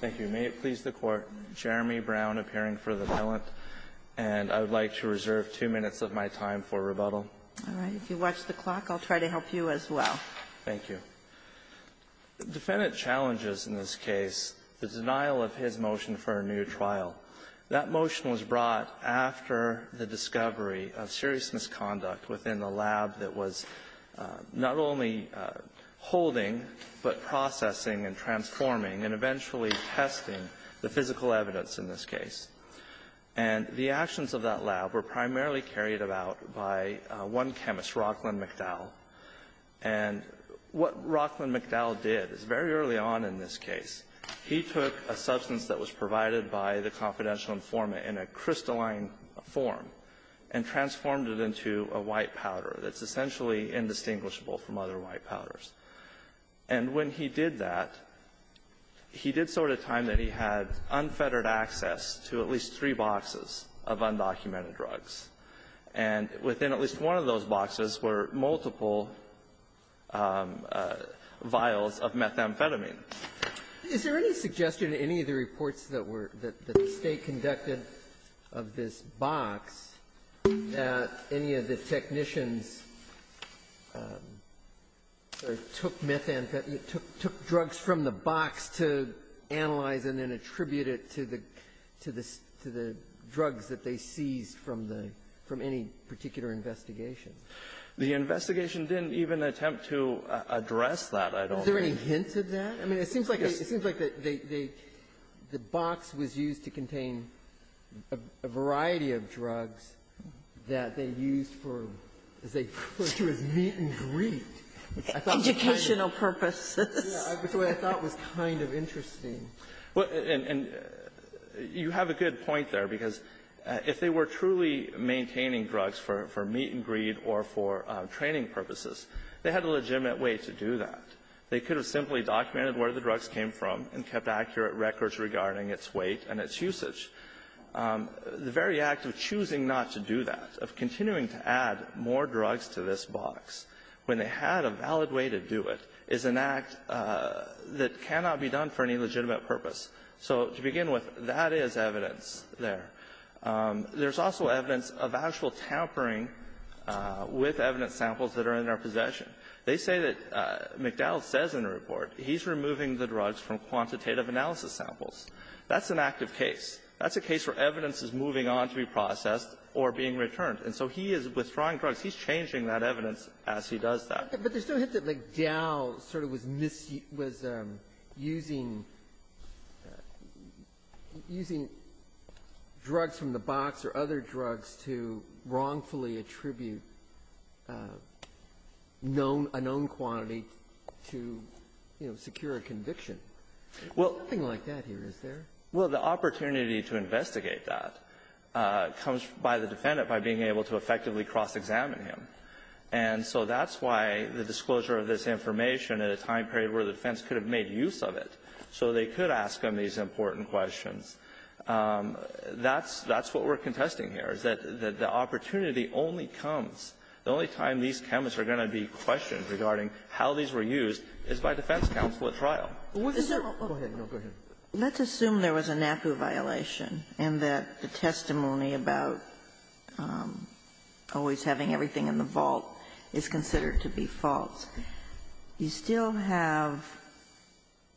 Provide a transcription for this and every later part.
Thank you. May it please the Court, Jeremy Brown appearing for the bill, and I would like to reserve two minutes of my time for rebuttal. All right. If you watch the clock, I'll try to help you as well. Thank you. Defendant challenges in this case the denial of his motion for a new trial. That motion was brought after the discovery of serious misconduct within the lab that was not only holding but processing and transforming, and eventually testing the physical evidence in this case. And the actions of that lab were primarily carried about by one chemist, Rockland McDowell. And what Rockland McDowell did is very early on in this case, he took a substance that was provided by the confidential informant in a crystalline form and transformed it into a white powder that's essentially indistinguishable from other white powders. And when he did that, he did so at a time that he had unfettered access to at least three boxes of undocumented drugs. And within at least one of those boxes were multiple vials of methamphetamine. Is there any suggestion in any of the reports that were the State conducted of this box that any of the technicians sort of took methamphetamine or took drugs from the box to analyze and then attribute it to the drugs that they seized from the any particular investigation? The investigation didn't even attempt to address that, I don't think. Sotomayor, is there any hint of that? I mean, it seems like the box was used to contain a variety of drugs that they used for, as they put it, as meet-and-greet. I thought it was kind of interesting. And you have a good point there, because if they were truly maintaining drugs for meet-and-greet or for training purposes, they had a legitimate way to do that. They could have simply documented where the drugs came from and kept accurate records regarding its weight and its usage. The very act of choosing not to do that, of continuing to add more drugs to this box, when they had a valid way to do it, is an act that cannot be done for any legitimate purpose. So to begin with, that is evidence there. There's also evidence of actual tampering with evidence samples that are in our possession. They say that McDowell says in the report he's removing the drugs from quantitative analysis samples. That's an active case. That's a case where evidence is moving on to be processed or being returned. And so he is withdrawing drugs. He's changing that evidence as he does that. But there's no hint that McDowell sort of was using drugs from the box or other drugs to wrongfully attribute a known quantity to, you know, secure a conviction. There's nothing like that here, is there? Well, the opportunity to investigate that comes by the defendant, by being able to effectively cross-examine him. And so that's why the disclosure of this information at a time period where the defense could have made use of it, so they could ask him these important questions. That's what we're contesting here, is that the opportunity only comes, the only time these chemists are going to be questioned regarding how these were used, is by defense counsel at trial. Sotomayor, go ahead. No, go ahead. Let's assume there was a NAPU violation and that the testimony about always having everything in the vault is considered to be false. You still have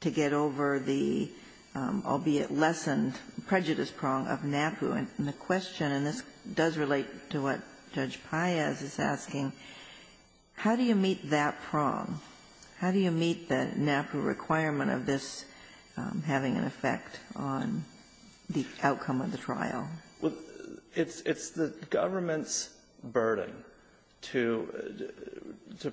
to get over the, albeit lessened, prejudice prong of NAPU. And the question, and this does relate to what Judge Paez is asking, how do you meet that prong? How do you meet the NAPU requirement of this having an effect on the outcome of the trial? Well, it's the government's burden to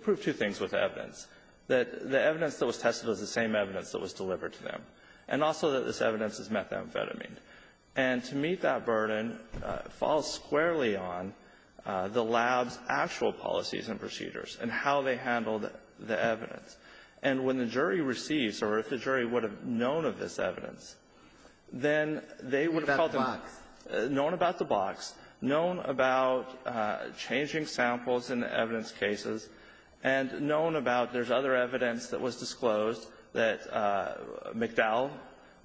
prove two things with evidence, that the evidence that was tested was the same evidence that was delivered to them, and also that this evidence is methamphetamine. And to meet that burden falls squarely on the lab's actual policies and procedures and how they handled the evidence. And when the jury receives, or if the jury would have known of this evidence, then they would have called them up. Known about the box. Known about changing samples in the evidence cases. And known about there's other evidence that was disclosed that McDowell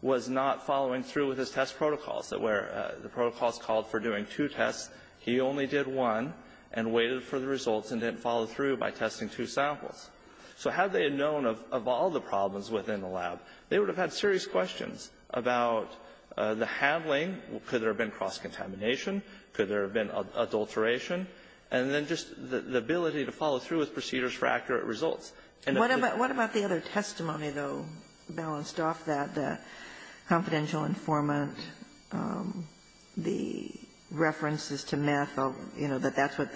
was not following through with his test protocols, that where the protocols called for doing two tests, he only did one and waited for the results and didn't follow through by testing two samples. So had they known of all the problems within the lab, they would have had serious questions about the handling, could there have been cross-contamination, could there have been adulteration, and then just the ability to follow through with procedures for accurate results. And what about the other testimony, though, balanced off that, the confidential informant, the references to meth, you know, that that's what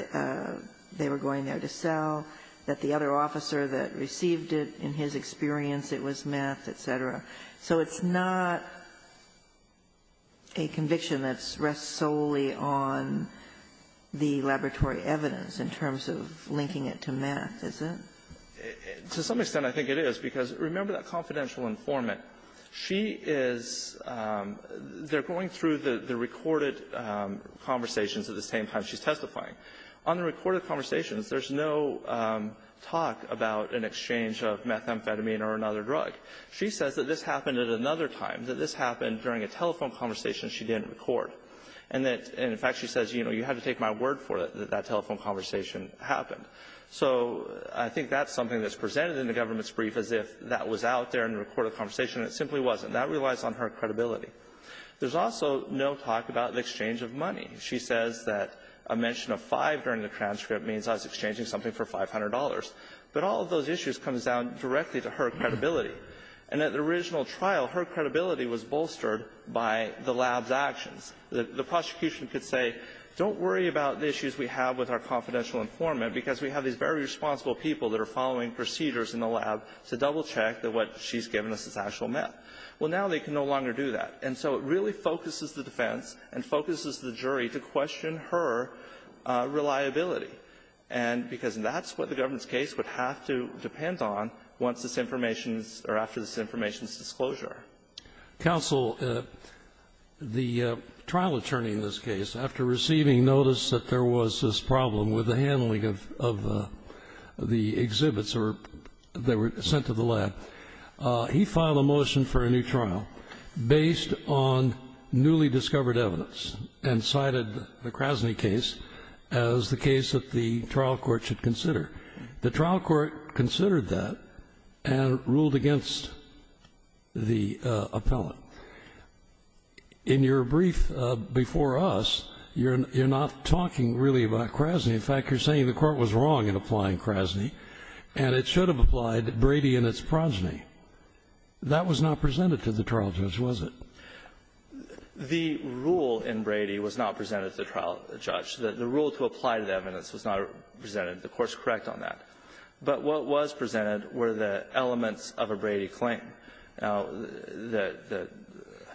they were going there to sell, that the other officer that received it, in his experience, it was meth, et cetera. So it's not a conviction that rests solely on the laboratory evidence in terms of linking it to meth, is it? To some extent, I think it is. Because remember that confidential informant. She is going through the recorded conversations at the same time she's testifying. On the recorded conversations, there's no talk about an exchange of methamphetamine or another drug. She says that this happened at another time, that this happened during a telephone conversation she didn't record. And that, in fact, she says, you know, you had to take my word for it that that telephone conversation happened. So I think that's something that's presented in the government's brief as if that was out there in the recorded conversation, and it simply wasn't. That relies on her credibility. There's also no talk about the exchange of money. She says that a mention of five during the transcript means I was exchanging something for $500. But all of those issues come down directly to her credibility. And at the original trial, her credibility was bolstered by the lab's actions. The prosecution could say, don't worry about the issues we have with our confidential informant, because we have these very responsible people that are following procedures in the lab to double-check that what she's given us is actual meth. Well, now they can no longer do that. And so it really focuses the defense and focuses the jury to question her reliability, and because that's what the government's case would have to depend on once this information is or after this information is disclosed. Scalia. Counsel, the trial attorney in this case, after receiving notice that there was this problem with the handling of the exhibits that were sent to the lab, he filed a motion for a new trial based on newly discovered evidence and cited the Krasny case as the case that the trial court should consider. The trial court considered that and ruled against the appellant. In your brief before us, you're not talking really about Krasny. In fact, you're saying the court was wrong in applying Krasny, and it should have applied Brady and its progeny. That was not presented to the trial judge, was it? The rule in Brady was not presented to the trial judge. The rule to apply the evidence was not presented. The court's correct on that. But what was presented were the elements of a Brady claim. Now, the ----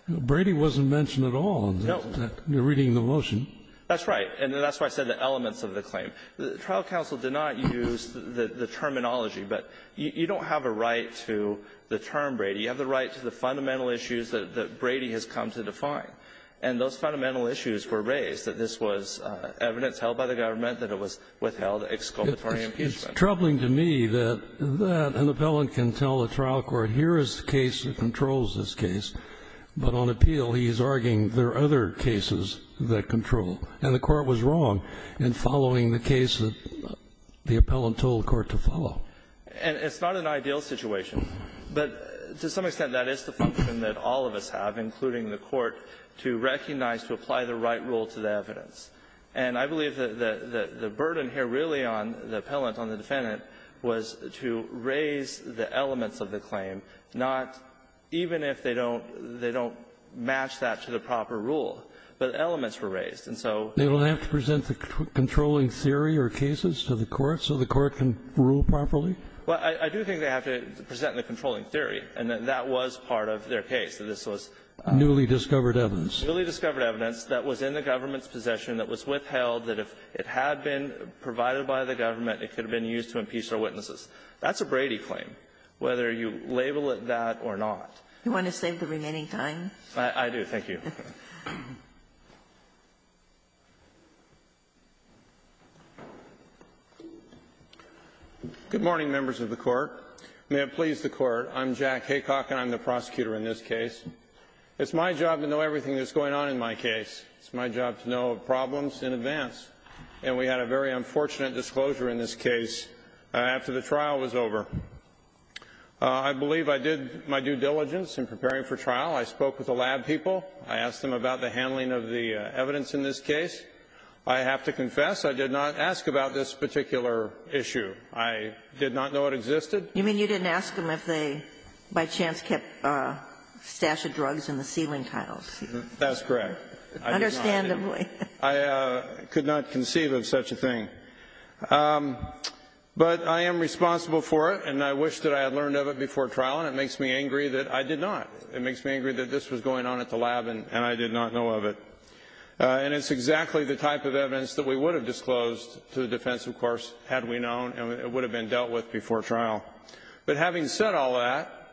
Brady wasn't mentioned at all in the reading of the motion. And that's why I said the elements of the claim. The trial counsel did not use the terminology, but you don't have a right to the term Brady. You have the right to the fundamental issues that Brady has come to define. And those fundamental issues were raised, that this was evidence held by the government, that it was withheld, exculpatory impeachment. It's troubling to me that that an appellant can tell a trial court, here is the case that controls this case, but on appeal, he's arguing there are other cases that control. And the court was wrong in following the case that the appellant told the court to follow. And it's not an ideal situation. But to some extent, that is the function that all of us have, including the court, to recognize, to apply the right rule to the evidence. And I believe that the burden here really on the appellant, on the defendant, was to raise the elements of the claim, not even if they don't match that to the proper rule, but elements were raised. And so they will have to present the controlling theory or cases to the court so the court can rule properly? Well, I do think they have to present the controlling theory, and that that was part of their case, that this was newly discovered evidence. Newly discovered evidence that was in the government's possession, that was withheld, that if it had been provided by the government, it could have been used to impeach their witnesses. That's a Brady claim, whether you label it that or not. You want to save the remaining time? I do. Thank you. Good morning, members of the court. May it please the court, I'm Jack Haycock, and I'm the prosecutor in this case. It's my job to know everything that's going on in my case. It's my job to know problems in advance. And we had a very unfortunate disclosure in this case after the trial was over. I believe I did my due diligence in preparing for trial. I spoke with the lab people. I asked them about the handling of the evidence in this case. I have to confess, I did not ask about this particular issue. I did not know it existed. You mean you didn't ask them if they by chance kept a stash of drugs in the ceiling tiles? That's correct. Understandably. I could not conceive of such a thing. But I am responsible for it, and I wish that I had learned of it before trial. And it makes me angry that I did not. It makes me angry that this was going on at the lab, and I did not know of it. And it's exactly the type of evidence that we would have disclosed to the defense, of course, had we known, and it would have been dealt with before trial. But having said all that,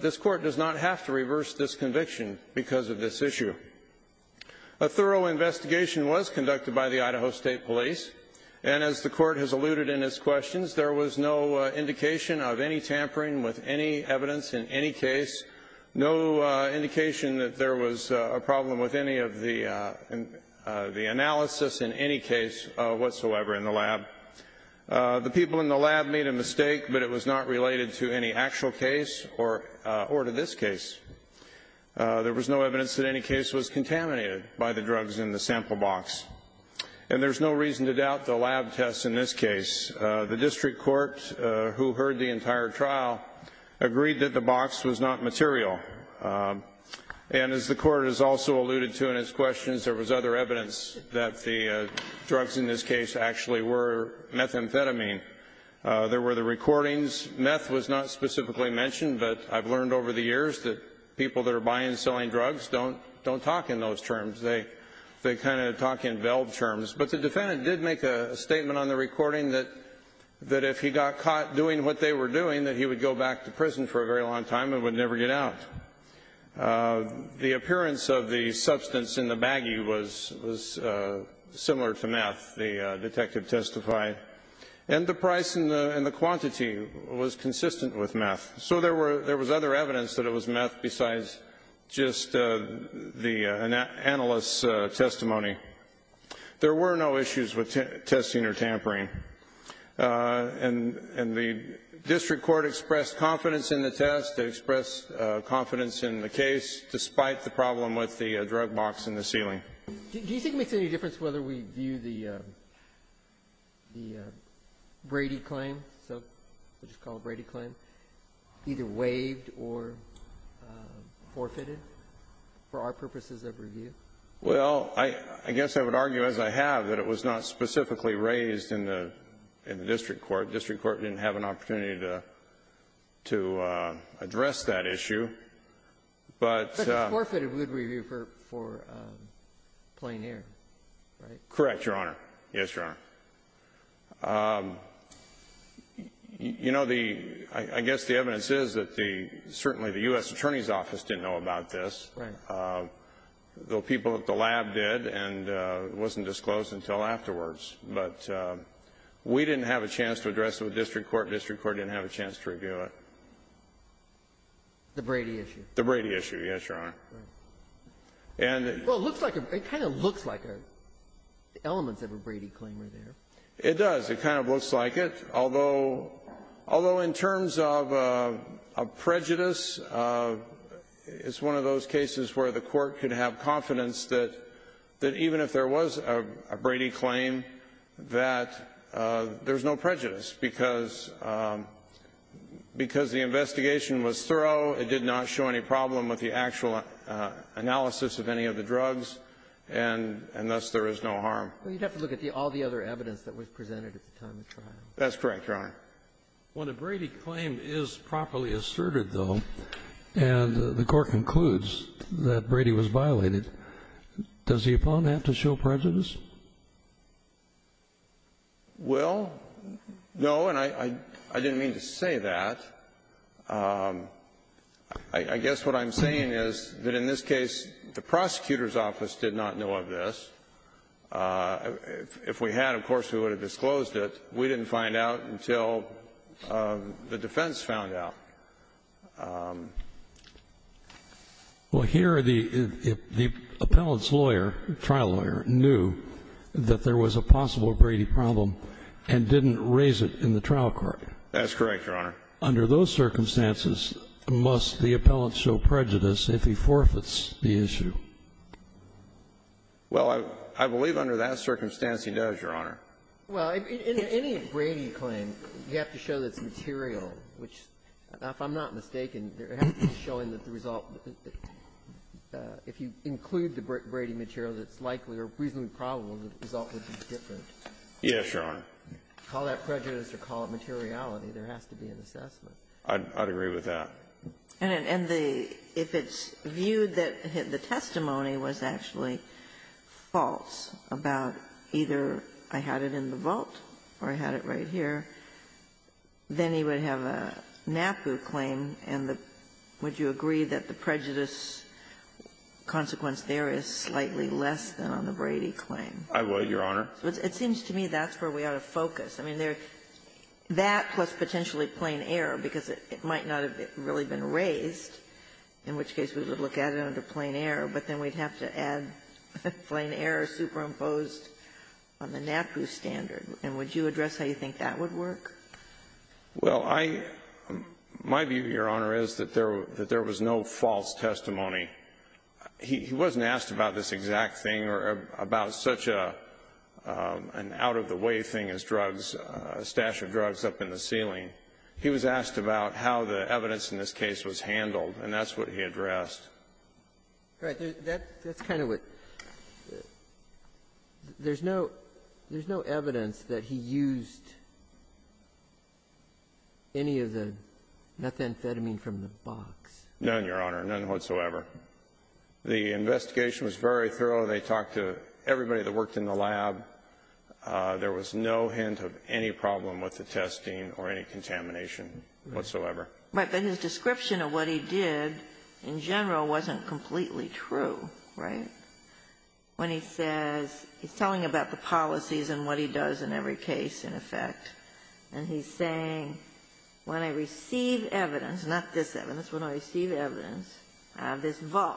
this court does not have to reverse this conviction because of this issue. A thorough investigation was conducted by the Idaho State Police. And as the court has alluded in its questions, there was no indication of any evidence in any case, no indication that there was a problem with any of the analysis in any case whatsoever in the lab. The people in the lab made a mistake, but it was not related to any actual case or to this case. There was no evidence that any case was contaminated by the drugs in the sample box, and there's no reason to doubt the lab tests in this case. The district court, who heard the entire trial, agreed that the box was not material. And as the court has also alluded to in its questions, there was other evidence that the drugs in this case actually were methamphetamine. There were the recordings. Meth was not specifically mentioned, but I've learned over the years that people that are buying and selling drugs don't talk in those terms. They kind of talk in velve terms. But the defendant did make a statement on the recording that if he got caught doing what they were doing, that he would go back to prison for a very long time and would never get out. The appearance of the substance in the baggie was similar to meth, the detective testified. And the price and the quantity was consistent with meth. So there was other evidence that it was meth besides just the analyst's testimony. There were no issues with testing or tampering. And the district court expressed confidence in the test, expressed confidence in the case, despite the problem with the drug box in the ceiling. Do you think it makes any difference whether we view the Brady claim, so we'll just call it Brady claim, either waived or forfeited for our purposes of review? Well, I guess I would argue, as I have, that it was not specifically raised in the district court. The district court didn't have an opportunity to address that issue, but- But it's forfeited review for plain air, right? Correct, Your Honor. Yes, Your Honor. I guess the evidence is that certainly the US Attorney's Office didn't know about this. Right. The people at the lab did, and it wasn't disclosed until afterwards. But we didn't have a chance to address it with the district court. The district court didn't have a chance to review it. The Brady issue. The Brady issue, yes, Your Honor. Right. And- Well, it looks like a, it kind of looks like elements of a Brady claim right there. It does. It kind of looks like it. Although, in terms of prejudice, it's one of those cases where the court could have confidence that even if there was a Brady claim, that there's no prejudice. Because the investigation was thorough, it did not show any problem with the actual analysis of any of the drugs, and thus there is no harm. Well, you'd have to look at all the other evidence that was presented at the time of trial. That's correct, Your Honor. When a Brady claim is properly asserted, though, and the court concludes that Brady was violated, does the opponent have to show prejudice? Well, no, and I didn't mean to say that. I guess what I'm saying is that in this case, the prosecutor's office did not know of this. If we had, of course, we would have disclosed it. We didn't find out until the defense found out. Well, here the appellant's lawyer, trial lawyer, knew that there was a possible Brady problem and didn't raise it in the trial court. That's correct, Your Honor. Under those circumstances, must the appellant show prejudice if he forfeits the issue? Well, I believe under that circumstance he does, Your Honor. Well, in any Brady claim, you have to show that it's material, which, if I'm not mistaken, it has to be showing that the result, if you include the Brady material, that it's likely or reasonably probable that the result would be different. Yes, Your Honor. Call that prejudice or call it materiality. There has to be an assessment. I'd agree with that. And if it's viewed that the testimony was actually false about either I had it in the vault or I had it right here, then he would have a NAPU claim, and would you agree that the prejudice consequence there is slightly less than on the Brady claim? I would, Your Honor. It seems to me that's where we ought to focus. I mean, that plus potentially plain error, because it might not have really been raised, in which case we would look at it under plain error, but then we'd have to add plain error superimposed on the NAPU standard. And would you address how you think that would work? Well, I my view, Your Honor, is that there was no false testimony. He wasn't asked about this exact thing or about such an out-of-the-way thing as drugs. A stash of drugs up in the ceiling. He was asked about how the evidence in this case was handled, and that's what he addressed. Right. That's kind of what the – there's no evidence that he used any of the methamphetamine from the box. None, Your Honor. None whatsoever. The investigation was very thorough. They talked to everybody that worked in the lab. There was no hint of any problem with the testing or any contamination whatsoever. Right. But his description of what he did in general wasn't completely true, right? When he says he's telling about the policies and what he does in every case, in effect. And he's saying when I receive evidence, not this evidence, when I receive evidence, this vault,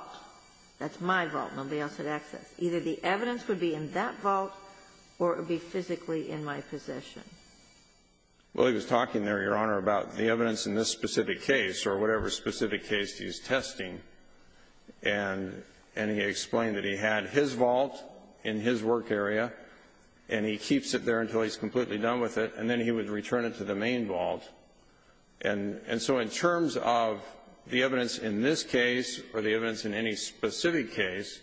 that's my vault, nobody else had access. Either the evidence would be in that vault or it would be physically in my possession. Well, he was talking there, Your Honor, about the evidence in this specific case or whatever specific case he's testing, and he explained that he had his vault in his work area, and he keeps it there until he's completely done with it, and then he would return it to the main vault. And so in terms of the evidence in this case or the evidence in any specific case,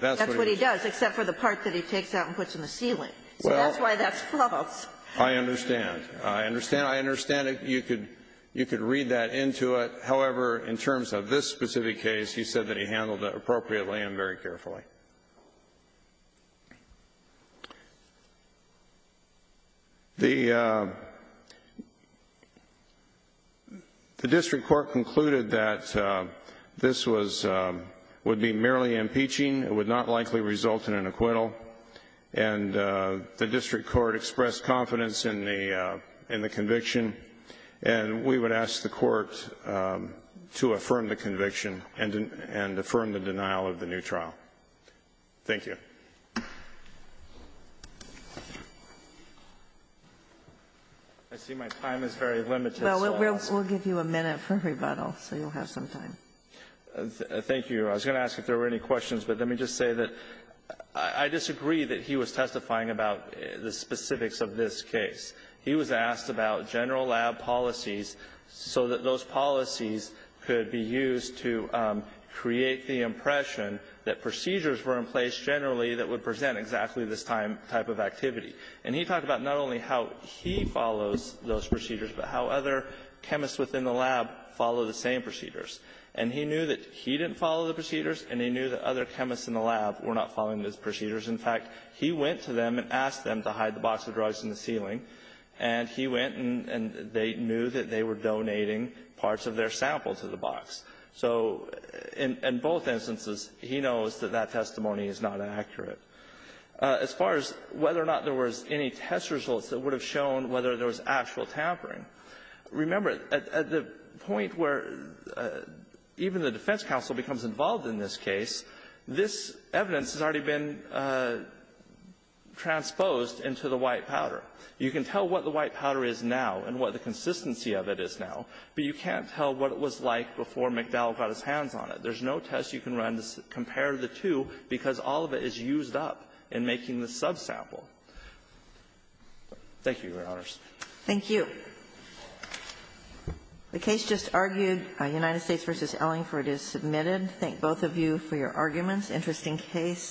that's what he does. That's what he does, except for the part that he takes out and puts in the ceiling. So that's why that's false. I understand. I understand. I understand you could read that into it. However, in terms of this specific case, he said that he handled it appropriately and very carefully. I see my time is very limited, so I'll ask. Well, we'll give you a minute for rebuttal, so you'll have some time. Thank you. I was going to ask if there were any questions, but let me just say that I disagree that he was testifying about the specifics of this case. He was asked about general lab policies so that those policies could be used to create the impression that procedures were in place generally that would present exactly this type of activity. And he talked about not only how he follows those procedures, but how other chemists within the lab follow the same procedures. And he knew that he didn't follow the procedures, and he knew that other chemists in the lab were not following those procedures. In fact, he went to them and asked them to hide the box of drugs in the ceiling, and he went and they knew that they were donating parts of their sample to the box. So in both instances, he knows that that testimony is not accurate. As far as whether or not there was any test results that would have shown whether there was actual tampering. Remember, at the point where even the defense counsel becomes involved in this case, this evidence has already been transposed into the white powder. You can tell what the white powder is now and what the consistency of it is now, but you can't tell what it was like before McDowell got his hands on it. There's no test you can run to compare the two because all of it is used up in making the subsample. Thank you, Your Honors. Thank you. The case just argued, United States v. Ellingford, is submitted. Thank both of you for your arguments. Interesting case.